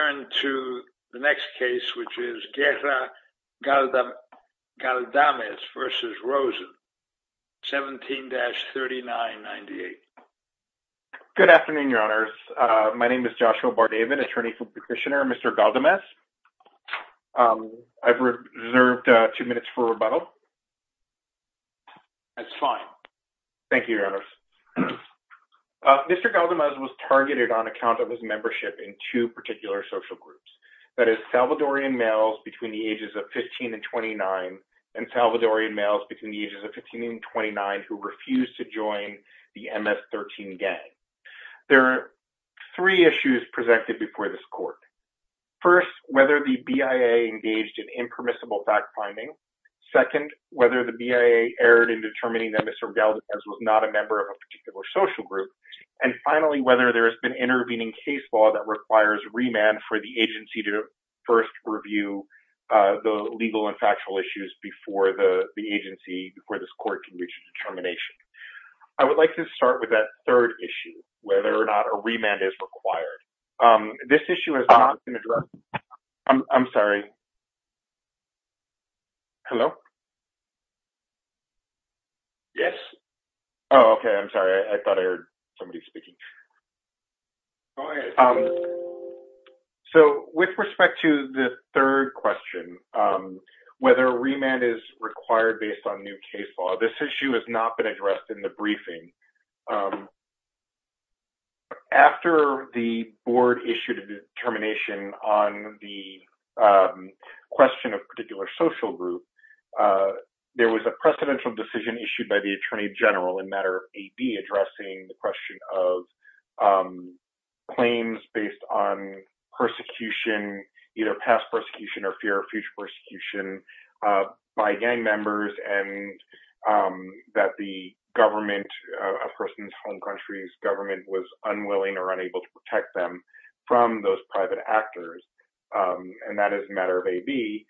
17-3998. Good afternoon, Your Honors. My name is Joshua Bardaven, attorney for Petitioner Mr. Galdamez. I've reserved two minutes for rebuttal. That's fine. Thank you, Your Honors. Mr. Galdamez was targeted on account of his membership in two particular social groups. That is, Salvadorian males between the ages of 15 and 29 and Salvadorian males between the ages of 15 and 29 who refused to join the MS-13 gang. There are three issues presented before this court. First, whether the BIA engaged in impermissible fact-finding. Second, whether the BIA erred in determining that Mr. Galdamez was not a member of a particular social group. And finally, whether there has been intervening case law that requires remand for the agency to first review the legal and factual issues before the agency, before this court can reach a determination. I would like to start with that third issue, whether or not a remand is required. This issue has not been addressed. I'm sorry. Hello? Yes. Oh, okay. I'm sorry. I thought I heard somebody speaking. So, with respect to the third question, whether remand is required based on new case law, this issue has not been addressed in the briefing. After the board issued a determination on the question of a particular social group, there was a precedential decision issued by the Attorney General in a matter of AD addressing the question of claims based on persecution, either past persecution or fear of future persecution by gang members, and that the government, a person's home country's government, was unwilling or unable to protect them from those private actors. And that is a matter of AB.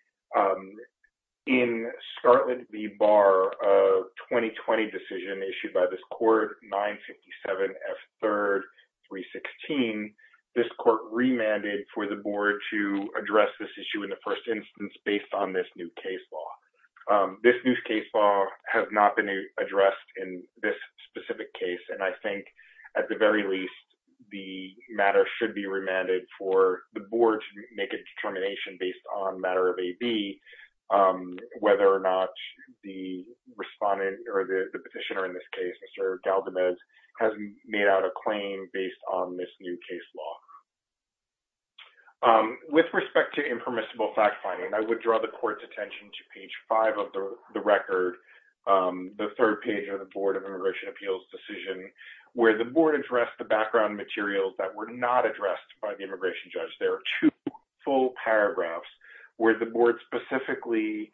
In Scarlet v. Barr, a 2020 decision issued by this court remanded for the board to address this issue in the first instance based on this new case law. This new case law has not been addressed in this specific case, and I think at the very least, the matter should be remanded for the board to make a determination based on a matter of AB, whether or not the respondent or the petitioner in this case, Mr. Galgamesh, has made out a claim based on this new case law. With respect to impermissible fact-finding, I would draw the court's attention to page five of the record, the third page of the Board of Immigration Appeals decision, where the board addressed the background materials that were not addressed by the immigration judge. There are two full paragraphs where the board specifically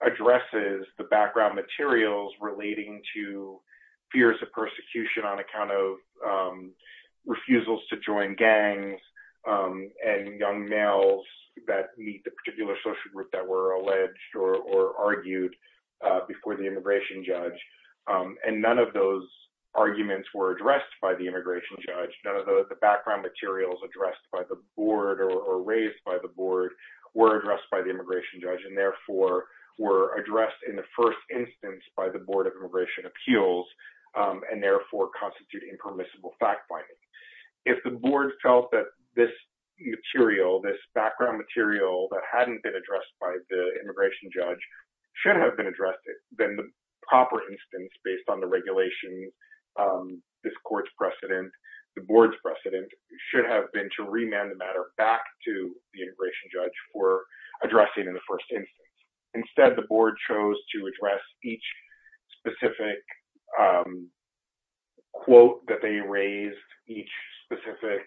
addresses the background materials relating to fears of persecution on account of refusals to join gangs and young males that meet the particular social group that were alleged or argued before the immigration judge. And none of those arguments were addressed by the immigration judge. None of the background materials addressed by the board or raised by the board were addressed by the immigration judge, and therefore were addressed in the first instance by the Board of Immigration Appeals, and therefore constitute impermissible fact-finding. If the board felt that this material, this background material that hadn't been addressed by the immigration judge, should have been addressed, then the proper instance based on the regulation, this court's precedent, the board's precedent, should have been to remand the matter back to the immigration judge for addressing in the first instance. Instead, the board chose to address each specific quote that they raised, each specific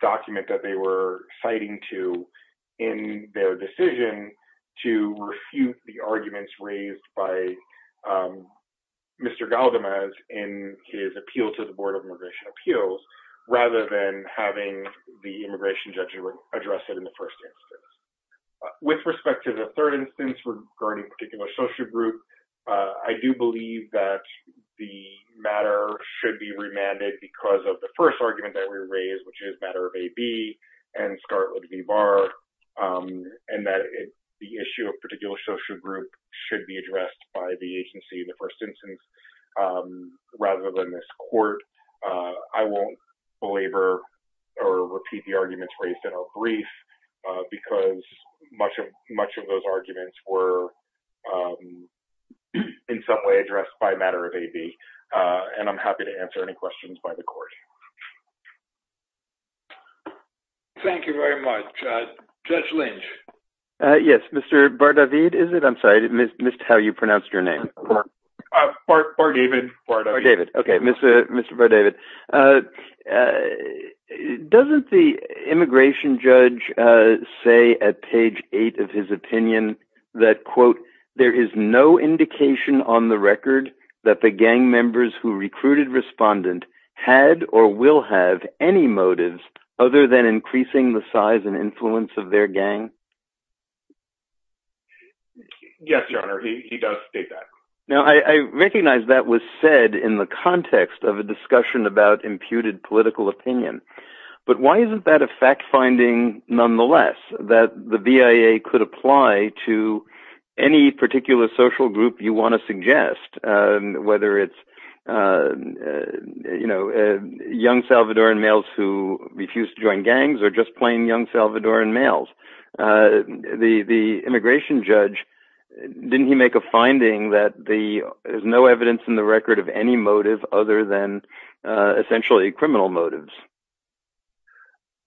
document that they were citing to in their decision to refute the arguments raised by Mr. Galdamez in his appeal to the Board of Immigration Appeals, rather than having the respect to the third instance regarding a particular social group. I do believe that the matter should be remanded because of the first argument that we raised, which is matter of AB and Scarlett v. Barr, and that the issue of a particular social group should be addressed by the agency in the first instance, rather than this court. I won't belabor or repeat the arguments raised in our brief, because much of those arguments were in some way addressed by matter of AB, and I'm happy to answer any questions by the court. Thank you very much. Judge Lynch. Yes, Mr. Bardavid, is it? I'm sorry, I missed how you pronounced your name. Bardavid. Okay, Mr. Bardavid. Doesn't the immigration judge say at page eight of his opinion that, quote, there is no indication on the record that the gang members who recruited respondent had or will have any motives other than increasing the size and influence of their gang? Yes, but why isn't that a fact-finding nonetheless that the BIA could apply to any particular social group you want to suggest, whether it's young Salvadoran males who refuse to join gangs or just plain young Salvadoran males? The immigration judge, didn't he make a finding that there's no essentially criminal motives?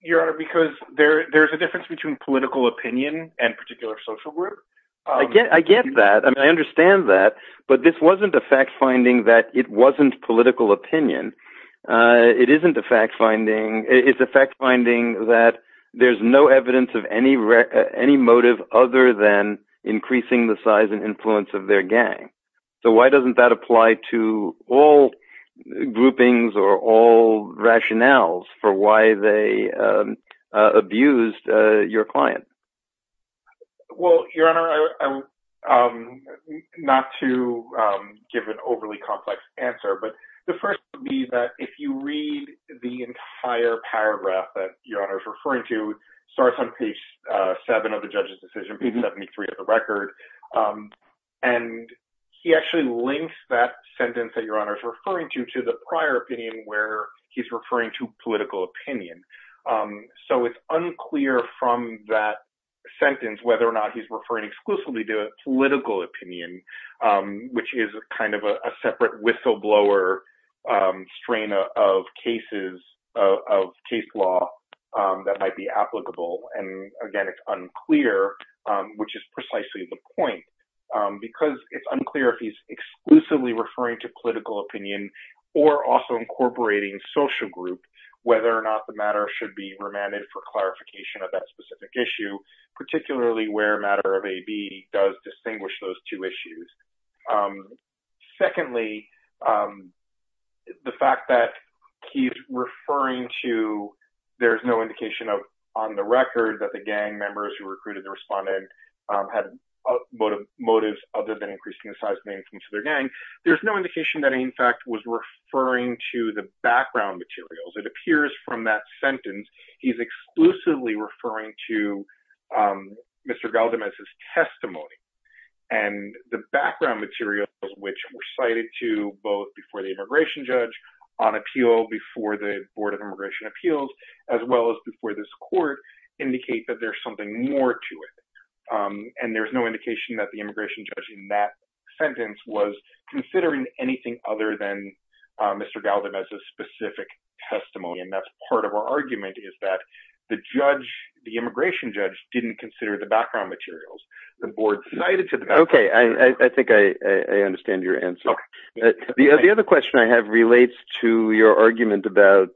Your Honor, because there's a difference between political opinion and particular social group. I get that. I understand that, but this wasn't a fact-finding that it wasn't political opinion. It isn't a fact-finding. It's a fact-finding that there's no evidence of any motive other than increasing the size and influence of their gang. So why doesn't that apply to all groupings or all rationales for why they abused your client? Well, Your Honor, not to give an overly complex answer, but the first would be that if you read the entire paragraph that Your Honor is referring to, starts on page seven of the judge's decision, page 73 of the record, and he actually links that sentence that Your Honor is referring to to the prior opinion where he's referring to political opinion. So it's unclear from that sentence whether or not he's referring exclusively to a political opinion, which is kind of a separate whistleblower strain of cases, of case law that might be applicable. And again, it's unclear which is precisely the point because it's unclear if he's exclusively referring to political opinion or also incorporating social group, whether or not the matter should be remanded for clarification of that specific issue, particularly where a matter of AB does distinguish those two issues. Secondly, the fact that he's referring to, there's no indication on the record that the gang members who recruited the respondent had motives other than increasing the size of the income to their gang. There's no indication that he, in fact, was referring to the background materials. It appears from that sentence, he's exclusively referring to Mr. Galdem as his testimony. And the background materials, which were cited to both before the immigration judge, on appeal before the board of immigration appeals, as well as before this court, indicate that there's something more to it. And there's no indication that the immigration judge in that sentence was considering anything other than Mr. Galdem as a specific testimony. And that's part of our argument is that the judge, the immigration judge, didn't consider the background materials. The board cited to them. Okay. I think I understand your answer. The other question I have relates to your argument about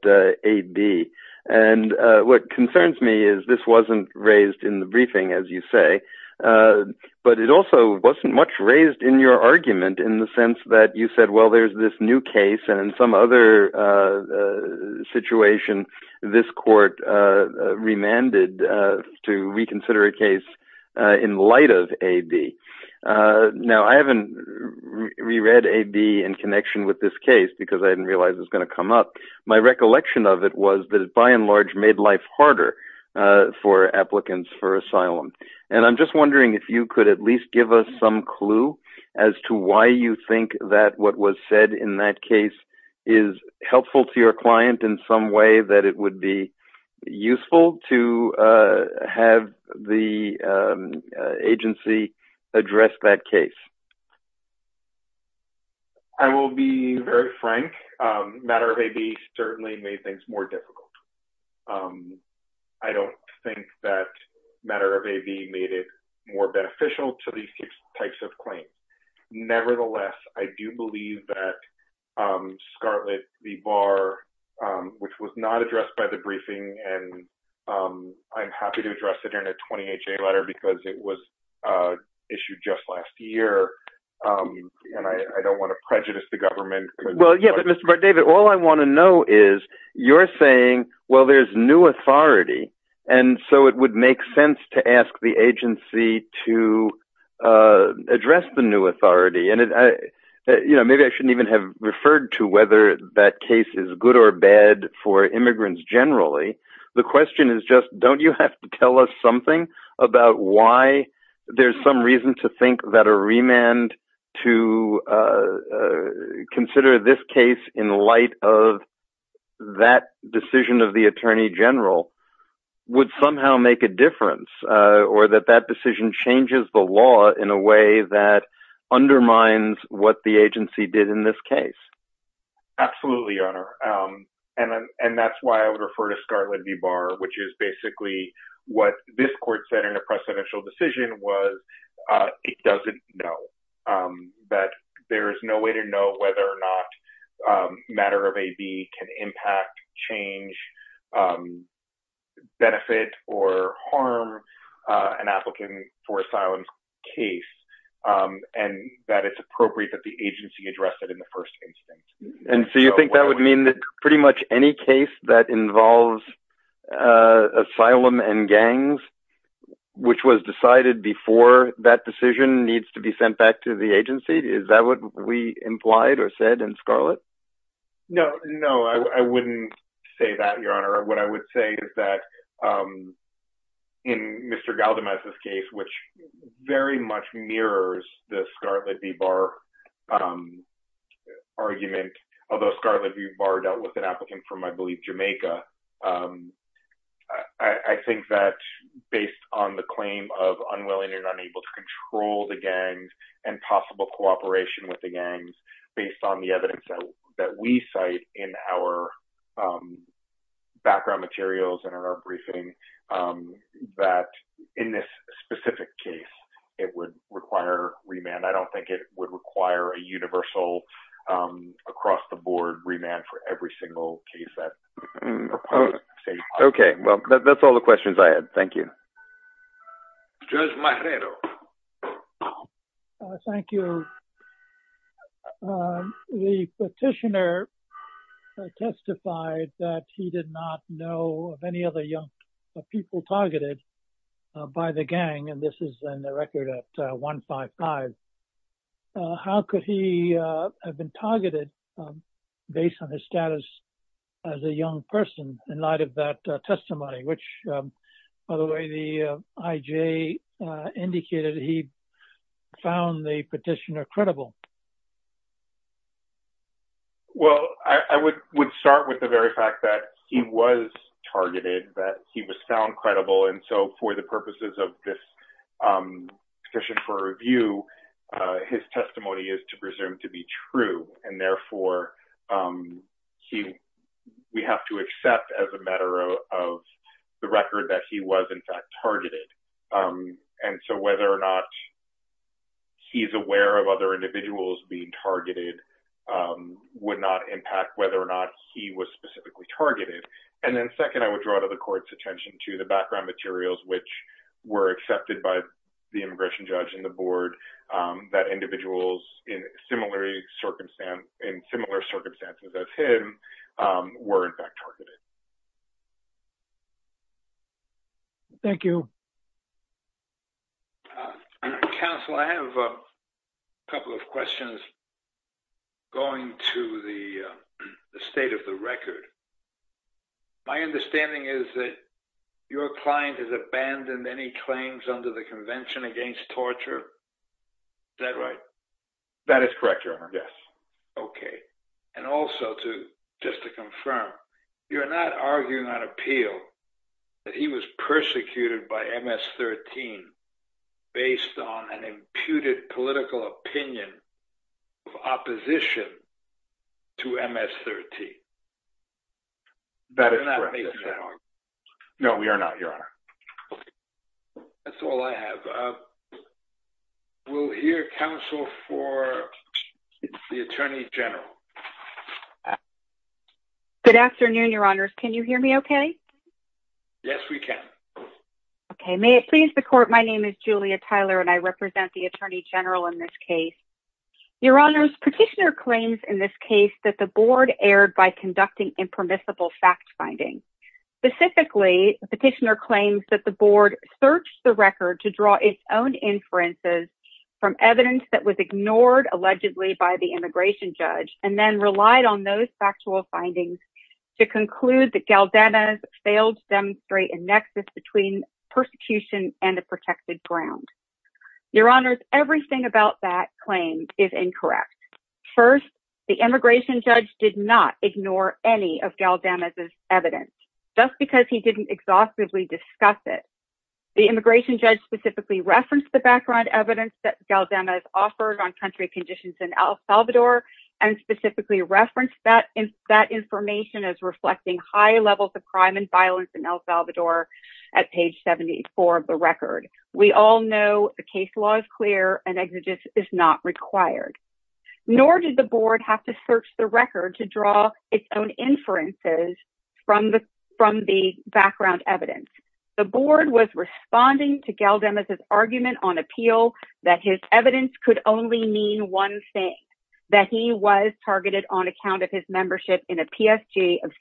AB. And what concerns me is this wasn't raised in the briefing, as you say. But it also wasn't much raised in your argument in the sense that you said, well, there's this new case and in some other situation, this court remanded to reconsider a case in light of AB. Now, I haven't reread AB in connection with this case because I didn't realize it was going to come up. My recollection of it was that it by and large made life harder for applicants for asylum. And I'm just wondering if you could at least give us some clue as to why you think that what was said in that case is helpful to your client in some way that it would be addressed that case? I will be very frank. Matter of AB certainly made things more difficult. I don't think that matter of AB made it more beneficial to these types of claims. Nevertheless, I do believe that Scarlett v. Barr, which was not addressed by the briefing and I'm happy to address it in a 20HA letter because it was issued just last year. And I don't want to prejudice the government. Well, yeah, but Mr. Bardavid, all I want to know is you're saying, well, there's new authority. And so it would make sense to ask the agency to address the new authority. And maybe I shouldn't even have referred to whether that case is good or bad for immigrants generally. The question is just, don't you have to tell us something about why there's some reason to think that a remand to consider this case in light of that decision of the attorney general would somehow make a difference or that that decision changes the law in a way that undermines what the agency did in this case? Absolutely, Your Honor. And that's why I would refer to Scarlett v. Barr, which is basically what this court said in a precedential decision was it doesn't know. That there is no way to know whether or not matter of AB can impact, change, benefit, or harm an applicant for asylum case. And that it's appropriate that the agency addressed it in the first instance. And so you think that would mean that pretty much any case that involves asylum and gangs, which was decided before that decision needs to be sent back to the agency? Is that what we implied or said in Scarlett? No, no, I wouldn't say that, Your Honor. What I would say is that in Mr. Galdemez's case, which very much mirrors the Scarlett v. Barr argument, although Scarlett v. Barr dealt with an applicant from, I believe, Jamaica. I think that based on the claim of unwilling and unable to control the gangs and possible cooperation with the gangs, based on the evidence that we cite in our background materials and in our briefing, that in this specific case, it would require remand. I don't think it would require a universal across-the-board remand for every single case that proposed. Okay, well, that's all the questions I had. Thank you. Judge Marrero. Thank you. The petitioner testified that he did not know of any other young people targeted by the gang, and this is in the record at 155. How could he have been targeted based on his status as a young person in light of that testimony, which, by the way, the IJ indicated he found the petitioner credible? Well, I would start with the very fact that he was targeted, that he was found credible, and so for the purposes of this petition for review, his testimony is to presume to be true, and therefore, we have to accept as a matter of the record that he was, in fact, targeted, and so whether or not he's aware of other individuals being targeted would not impact whether or not he was specifically targeted, and then second, I would draw to the court's attention to the background materials which were accepted by the immigration judge and the board that individuals in similar circumstances as him were, in fact, targeted. Thank you. Counsel, I have a couple of questions going to the state of the record. My understanding is that your client has abandoned any claims under the Convention Against Torture. Is that right? That is correct, Your Honor. Yes. Okay, and also, just to confirm, you're not arguing on appeal that he was persecuted by MS-13 based on an imputed political opinion of opposition to MS-13? That is correct. No, we are not, Your Honor. That's all I have. We'll hear counsel for the Attorney General. Good afternoon, Your Honors. Can you hear me okay? Yes, we can. Okay, may it please the court, my name is Julia Tyler, and I represent the Attorney General in this case. Your Honors, petitioner claims in this case that the board erred by conducting impermissible fact-finding. Specifically, the petitioner claims that the board searched the record to draw its own inferences from evidence that was ignored allegedly by the immigration judge, and then relied on those factual findings to conclude that Galdena's failed to demonstrate a nexus between persecution and protected ground. Your Honors, everything about that claim is incorrect. First, the immigration judge did not ignore any of Galdena's evidence, just because he didn't exhaustively discuss it. The immigration judge specifically referenced the background evidence that Galdena's offered on country conditions in El Salvador, and specifically referenced that information as reflecting high levels of crime and violence in El Salvador at page 74 of the record. We all know the case law is clear and exegesis is not required. Nor did the board have to search the record to draw its own inferences from the background evidence. The board was responding to Galdena's argument on appeal that his evidence could only mean one thing, that he was targeted on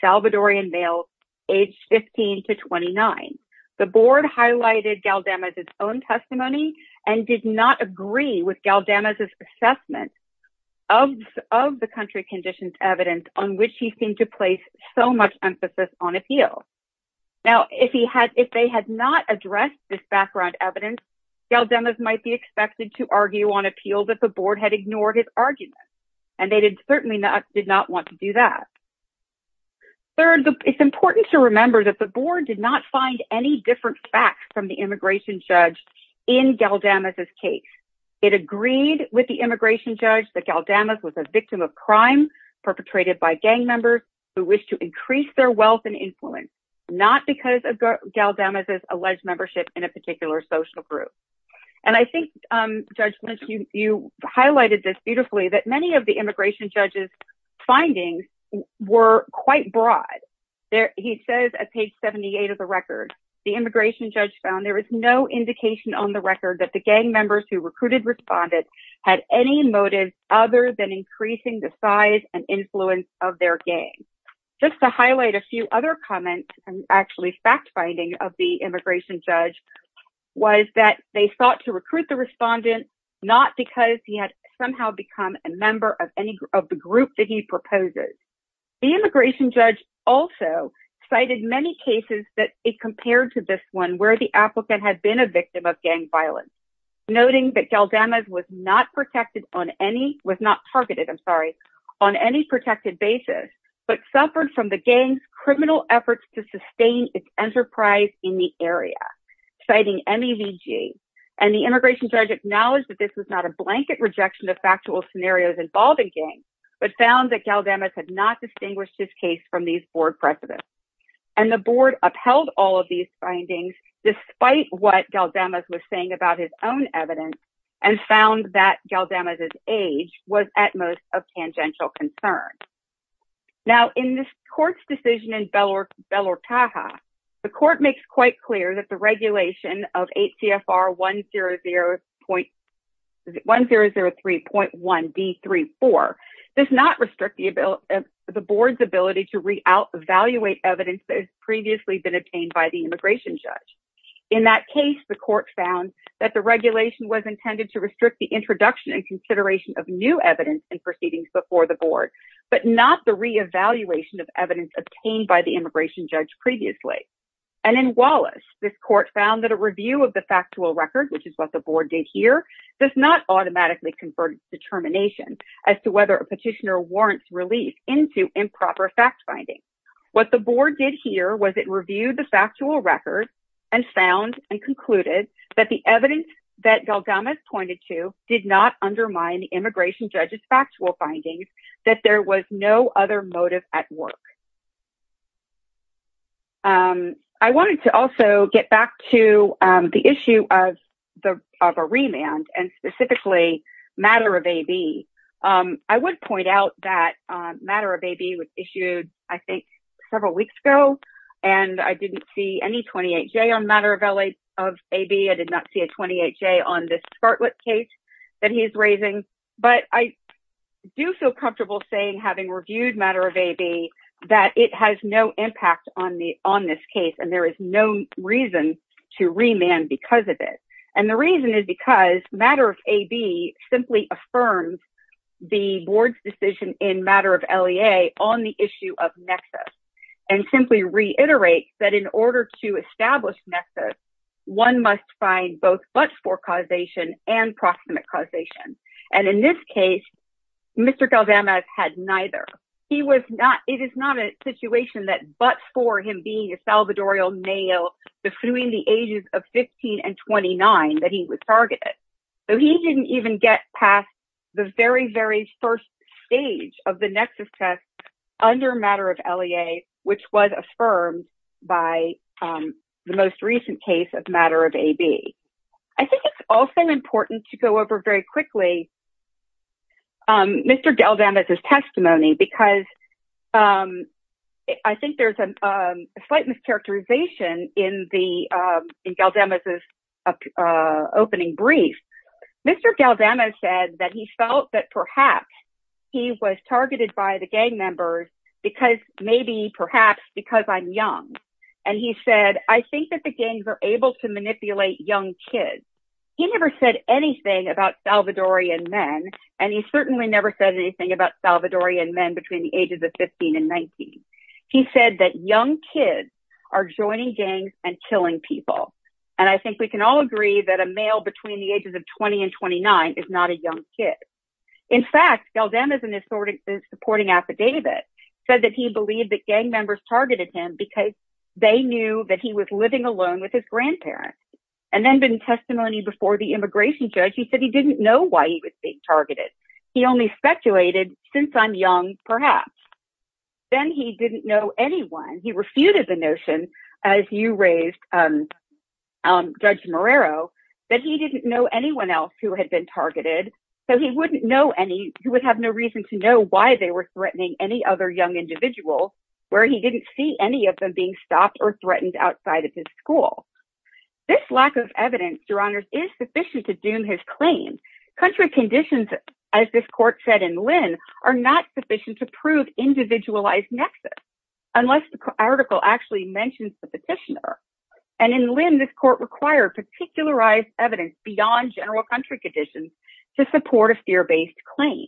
Salvadorian males aged 15 to 29. The board highlighted Galdena's own testimony and did not agree with Galdena's assessment of the country conditions evidence on which he seemed to place so much emphasis on appeal. Now, if they had not addressed this background evidence, Galdena's might be expected to argue on appeal that the board had ignored his argument, and they certainly did not want to do that. Third, it's important to remember that the board did not find any different facts from the immigration judge in Galdena's case. It agreed with the immigration judge that Galdena was a victim of crime perpetrated by gang members who wish to increase their wealth and influence, not because of Galdena's alleged membership in a gang. Many of the immigration judge's findings were quite broad. He says at page 78 of the record, the immigration judge found there is no indication on the record that the gang members who recruited respondents had any motive other than increasing the size and influence of their gang. Just to highlight a few other comments, and actually fact finding of the immigration judge, was that they sought to recruit the respondent not because he had somehow become a member of any of the group that he proposes. The immigration judge also cited many cases that it compared to this one where the applicant had been a victim of gang violence, noting that Galdena was not protected on any, was not targeted, I'm sorry, on any protected basis, but suffered from the gang's enterprise in the area, citing MEVG. And the immigration judge acknowledged that this was not a blanket rejection of factual scenarios involved in gangs, but found that Galdena had not distinguished his case from these board precedents. And the board upheld all of these findings, despite what Galdena was saying about his own evidence, and found that Galdena's age was at most of tangential concern. Now, in this court's decision in Belortaja, the court makes quite clear that the regulation of 8 CFR 1003.1B34 does not restrict the board's ability to re-evaluate evidence that has previously been obtained by the immigration judge. In that case, the court found that the regulation was intended to restrict the introduction and consideration of new evidence and proceedings before the board, but not the re-evaluation of evidence obtained by the immigration judge previously. And in Wallace, this court found that a review of the factual record, which is what the board did here, does not automatically convert its determination as to whether a petitioner warrants release into improper fact-finding. What the board did here was it reviewed the factual record and found and concluded that the evidence that Galgamesh pointed to did not undermine the that there was no other motive at work. I wanted to also get back to the issue of a remand and specifically matter of AB. I would point out that matter of AB was issued, I think, several weeks ago, and I didn't see any 28-J on matter of AB. I did not see a 28-J on this Scarlett case that do feel comfortable saying, having reviewed matter of AB, that it has no impact on this case and there is no reason to remand because of it. And the reason is because matter of AB simply affirms the board's decision in matter of LEA on the issue of nexus and simply reiterates that in order to establish nexus, one must find both but-for causation and proximate causation. And in this case, Mr. Galgamesh had neither. He was not, it is not a situation that but-for him being a Salvadorian male between the ages of 15 and 29 that he was targeted. So he didn't even get past the very, very first stage of the nexus test under matter of LEA, which was affirmed by the most recent case of matter of AB. I think it's also important to go over very quickly Mr. Galgamesh's testimony because I think there's a slight mischaracterization in Galgamesh's opening brief. Mr. Galgamesh said that he felt that perhaps he was targeted by the gang members maybe perhaps because I'm young. And he said, I think that the gangs are able to manipulate young kids. He never said anything about Salvadorian men. And he certainly never said anything about Salvadorian men between the ages of 15 and 19. He said that young kids are joining gangs and killing people. And I think we can all agree that a male between the ages of 20 and 29 is not a young kid. In fact, Galgamesh in his supporting affidavit said that he believed that gang members targeted him because they knew that he was living alone with his grandparents. And then in testimony before the immigration judge, he said he didn't know why he was being targeted. He only speculated since I'm young, perhaps. Then he didn't know anyone. He refuted the notion as you raised Judge Marrero, that he didn't know anyone else who had been targeted. So he wouldn't know any, he would have no reason to know why they were threatening any other young individual where he didn't see any of them being stopped or threatened outside of his school. This lack of evidence, your honors, is sufficient to doom his claim. Country conditions, as this mentions the petitioner. And in Lynn, this court required particularized evidence beyond general country conditions to support a fear-based claim.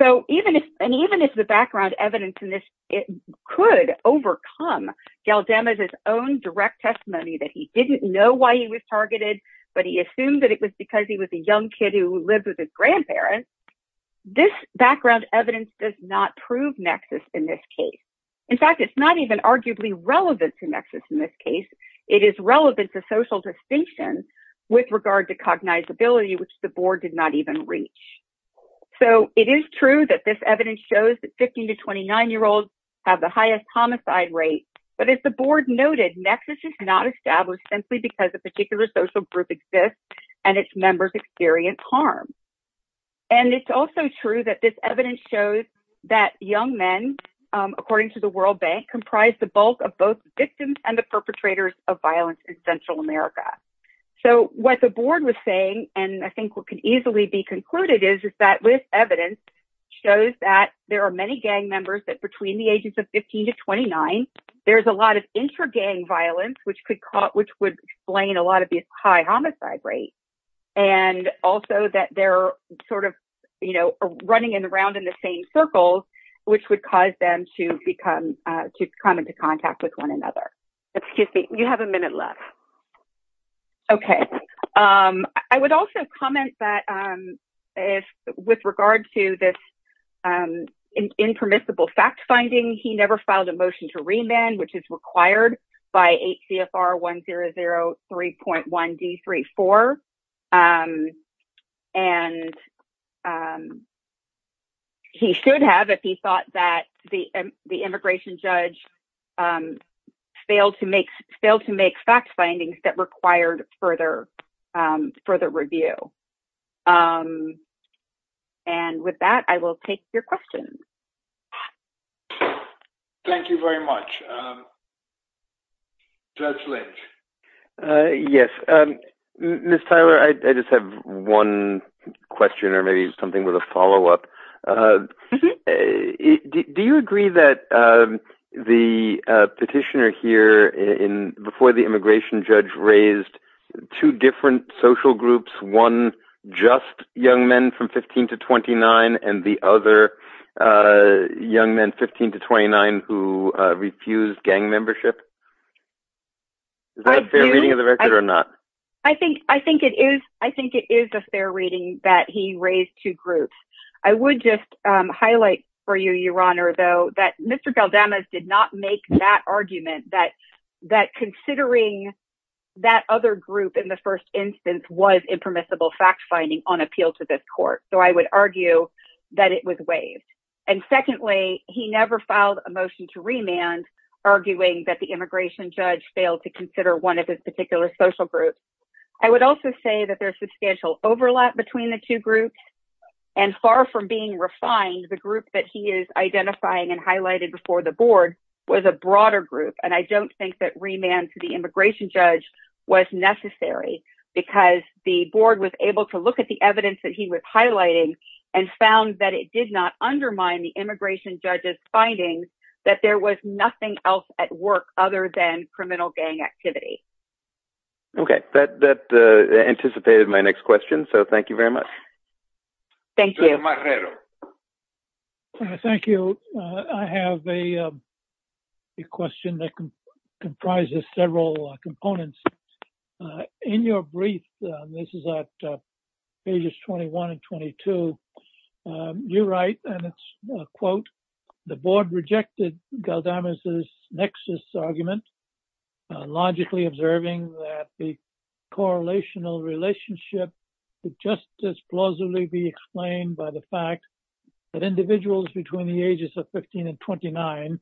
So even if, and even if the background evidence in this could overcome Galgamesh's own direct testimony that he didn't know why he was targeted, but he assumed that it was because he was a young kid who lived with his grandparents, this background evidence does not prove nexus in this case. In fact, it's not even arguably relevant to nexus in this case. It is relevant to social distinctions with regard to cognizability, which the board did not even reach. So it is true that this evidence shows that 15 to 29-year-olds have the highest homicide rate, but as the board noted, nexus is not established simply because a particular social group exists and its members experience harm. And it's also true that this evidence shows that young men, according to the World Bank, comprise the bulk of both victims and the perpetrators of violence in Central America. So what the board was saying, and I think what could easily be concluded is that this evidence shows that there are many gang members that between the ages of 15 to 29, there's a lot of intra-gang violence, which would explain a lot of these high homicide rates. And also that they're sort of running around in the same circles, which would cause them to come into contact with one another. Excuse me, you have a minute left. Okay. I would also comment that with regard to this impermissible fact finding, he never filed a motion to remand, which is required by 8 CFR 1003.1 D34. And he should have if he thought that the immigration judge failed to make fact findings that required further review. And with that, I will take your questions. Thank you very much. Judge Lynch. Yes. Ms. Tyler, I just have one question or maybe something with a follow-up. Do you agree that the petitioner here in before the immigration judge raised two different social groups, one just young men from 15 to 29, and the other young men 15 to 29 who refused gang membership? Is that a fair reading of the record or not? I think it is a fair reading that he raised two groups. I would just highlight for you, Your Honor, though, that Mr. Galdamas did not make that argument that considering that other group in the first instance was impermissible fact finding on appeal to this court. So I would argue that it was waived. And secondly, he never filed a motion to remand arguing that the immigration judge failed to consider one of his particular social groups. I would also say that there's substantial overlap between the two groups. And far from being refined, the group that he is identifying and highlighted before the board was a broader group. And I don't think that remand to the immigration judge was necessary because the board was able to look at the evidence that he was highlighting and found that it did not undermine the immigration judge's findings, that there was nothing else at work other than criminal gang activity. Okay. That anticipated my next question. So thank you very much. Thank you. Thank you. I have a question that comprises several components. In your brief, this is at pages 21 and 22, you write and it's a quote, the board rejected Galdamas' nexus argument, logically observing that the correlational relationship with justice plausibly be explained by the fact that individuals between the ages of 15 and 29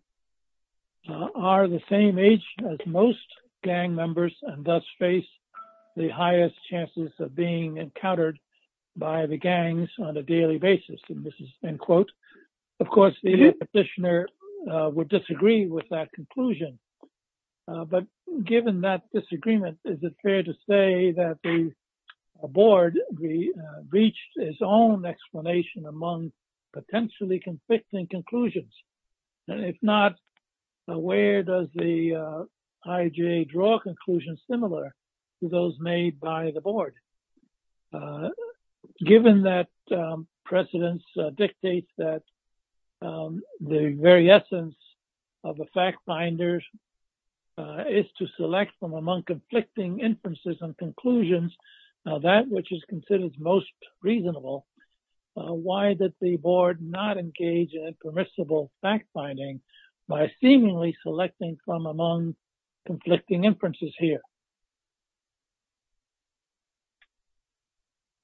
are the same age as most gang members and thus face the highest chances of being encountered by the gangs on a daily basis. End quote. Of course, the petitioner would disagree with that conclusion. But given that disagreement, is it fair to say that the board reached its own explanation among potentially conflicting conclusions? If not, where does the IJA draw conclusions similar to those made by the board? Given that precedence dictates that the very essence of the fact finders is to select from among conflicting inferences and conclusions, that which is considered most reasonable, why did the board not engage in permissible fact finding by seemingly selecting from among conflicting inferences here?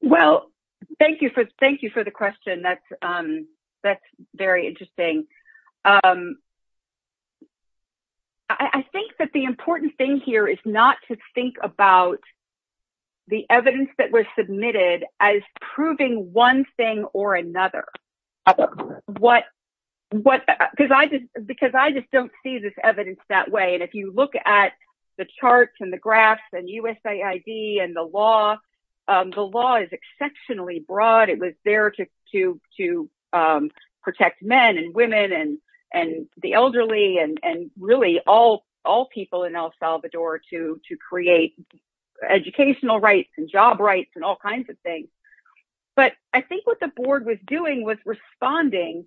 Well, thank you for the question. That's very interesting. I think that the important thing here is not to think about the evidence that was submitted as proving one thing or another. Because I just don't see this evidence that way. And if you look at the charts and the graphs and USAID and the law, the law is exceptionally broad. It was there to protect men and women and the elderly and really all people in El Salvador to create educational rights and job rights and all kinds of things. But I think what the board was doing was responding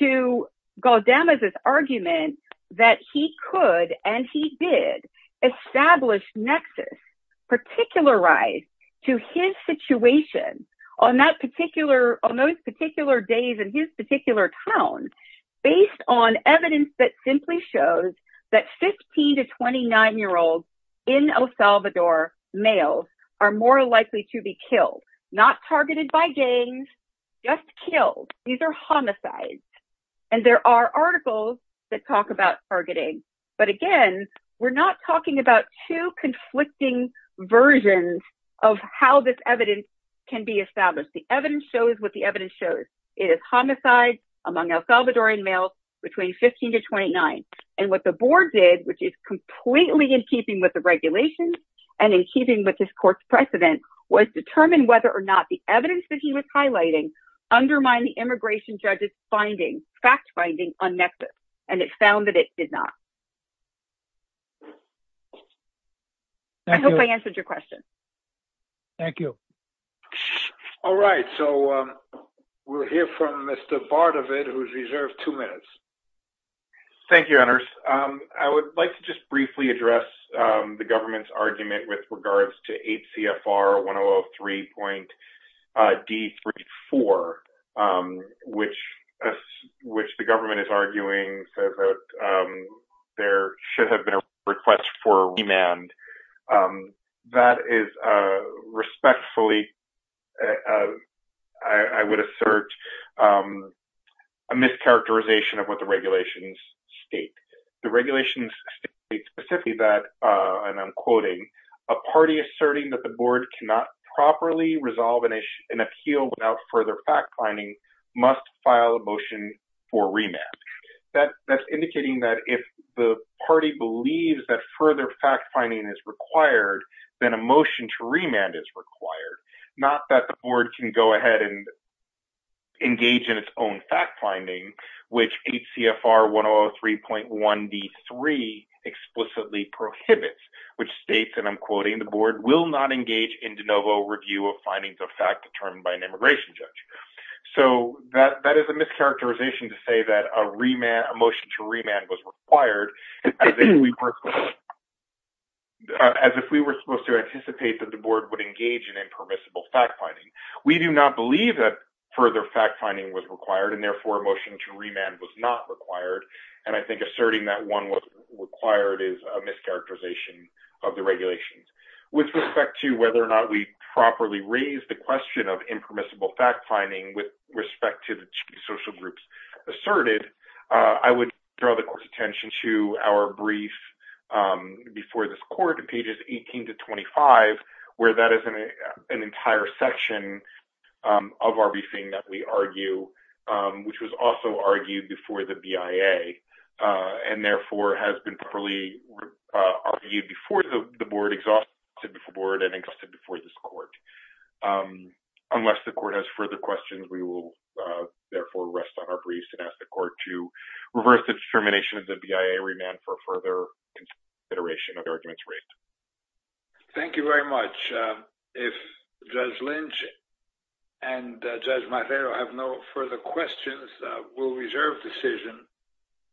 to Galdemez's argument that he could and he did establish nexus, particularize to his situation on those particular days in his particular town, based on evidence that simply shows that 15 to 29-year-olds in El Salvador males are more likely to be killed, not targeted by gangs, just killed. These are homicides. And there are articles that talk about targeting. But again, we're not talking about two conflicting versions of how this evidence can be established. The evidence shows what the evidence shows. It is homicides among El Salvadorian males between 15 to 29. And what the board did, which is completely in keeping with the regulations and in keeping with this court's precedent, was determine whether or not the evidence that he was highlighting undermined the immigration judge's finding, fact finding on nexus. And it found that it did not. I hope I answered your question. Thank you. All right. So we'll hear from Mr. Bardavid, who's reserved two minutes. Thank you, Ernest. I would like to just briefly address the government's argument with regards to 8 CFR 1003.D34, which the government is arguing there should have been a request for remand. That is respectfully, I would assert, a mischaracterization of what the regulations state. The regulations state specifically that, and I'm quoting, a party asserting that the board cannot properly resolve an issue, an appeal without further fact finding must file a motion for remand. That's indicating that if the party believes that further fact finding is required, then a motion to remand is required. Not that the board can go ahead and engage in its own fact finding, which 8 CFR 1003.1D3 explicitly prohibits, which states, and I'm quoting, the board will not engage in de novo review of findings of fact determined by an immigration judge. So that is a mischaracterization to say that a motion to remand was required as if we were supposed to anticipate that the board would engage in permissible fact finding. We do not believe that further fact finding was required, and therefore a motion to remand was not required, and I think asserting that one was required is a mischaracterization of the regulations. With respect to whether or not we properly raised the question of impermissible fact finding with respect to the two social groups asserted, I would draw the court's attention to our brief before this court, pages 18 to 25, where that is an entire section of our briefing that we argue, which was also argued before the BIA, and therefore has been properly argued before the board, exhausted before the board, and exhausted before this court. Unless the court has further questions, we will therefore rest on our briefs and ask the court to reverse the determination of the BIA remand for further consideration of the arguments raised. Thank you very much. If Judge Lynch and Judge Marrero have no further questions, we'll reserve decision.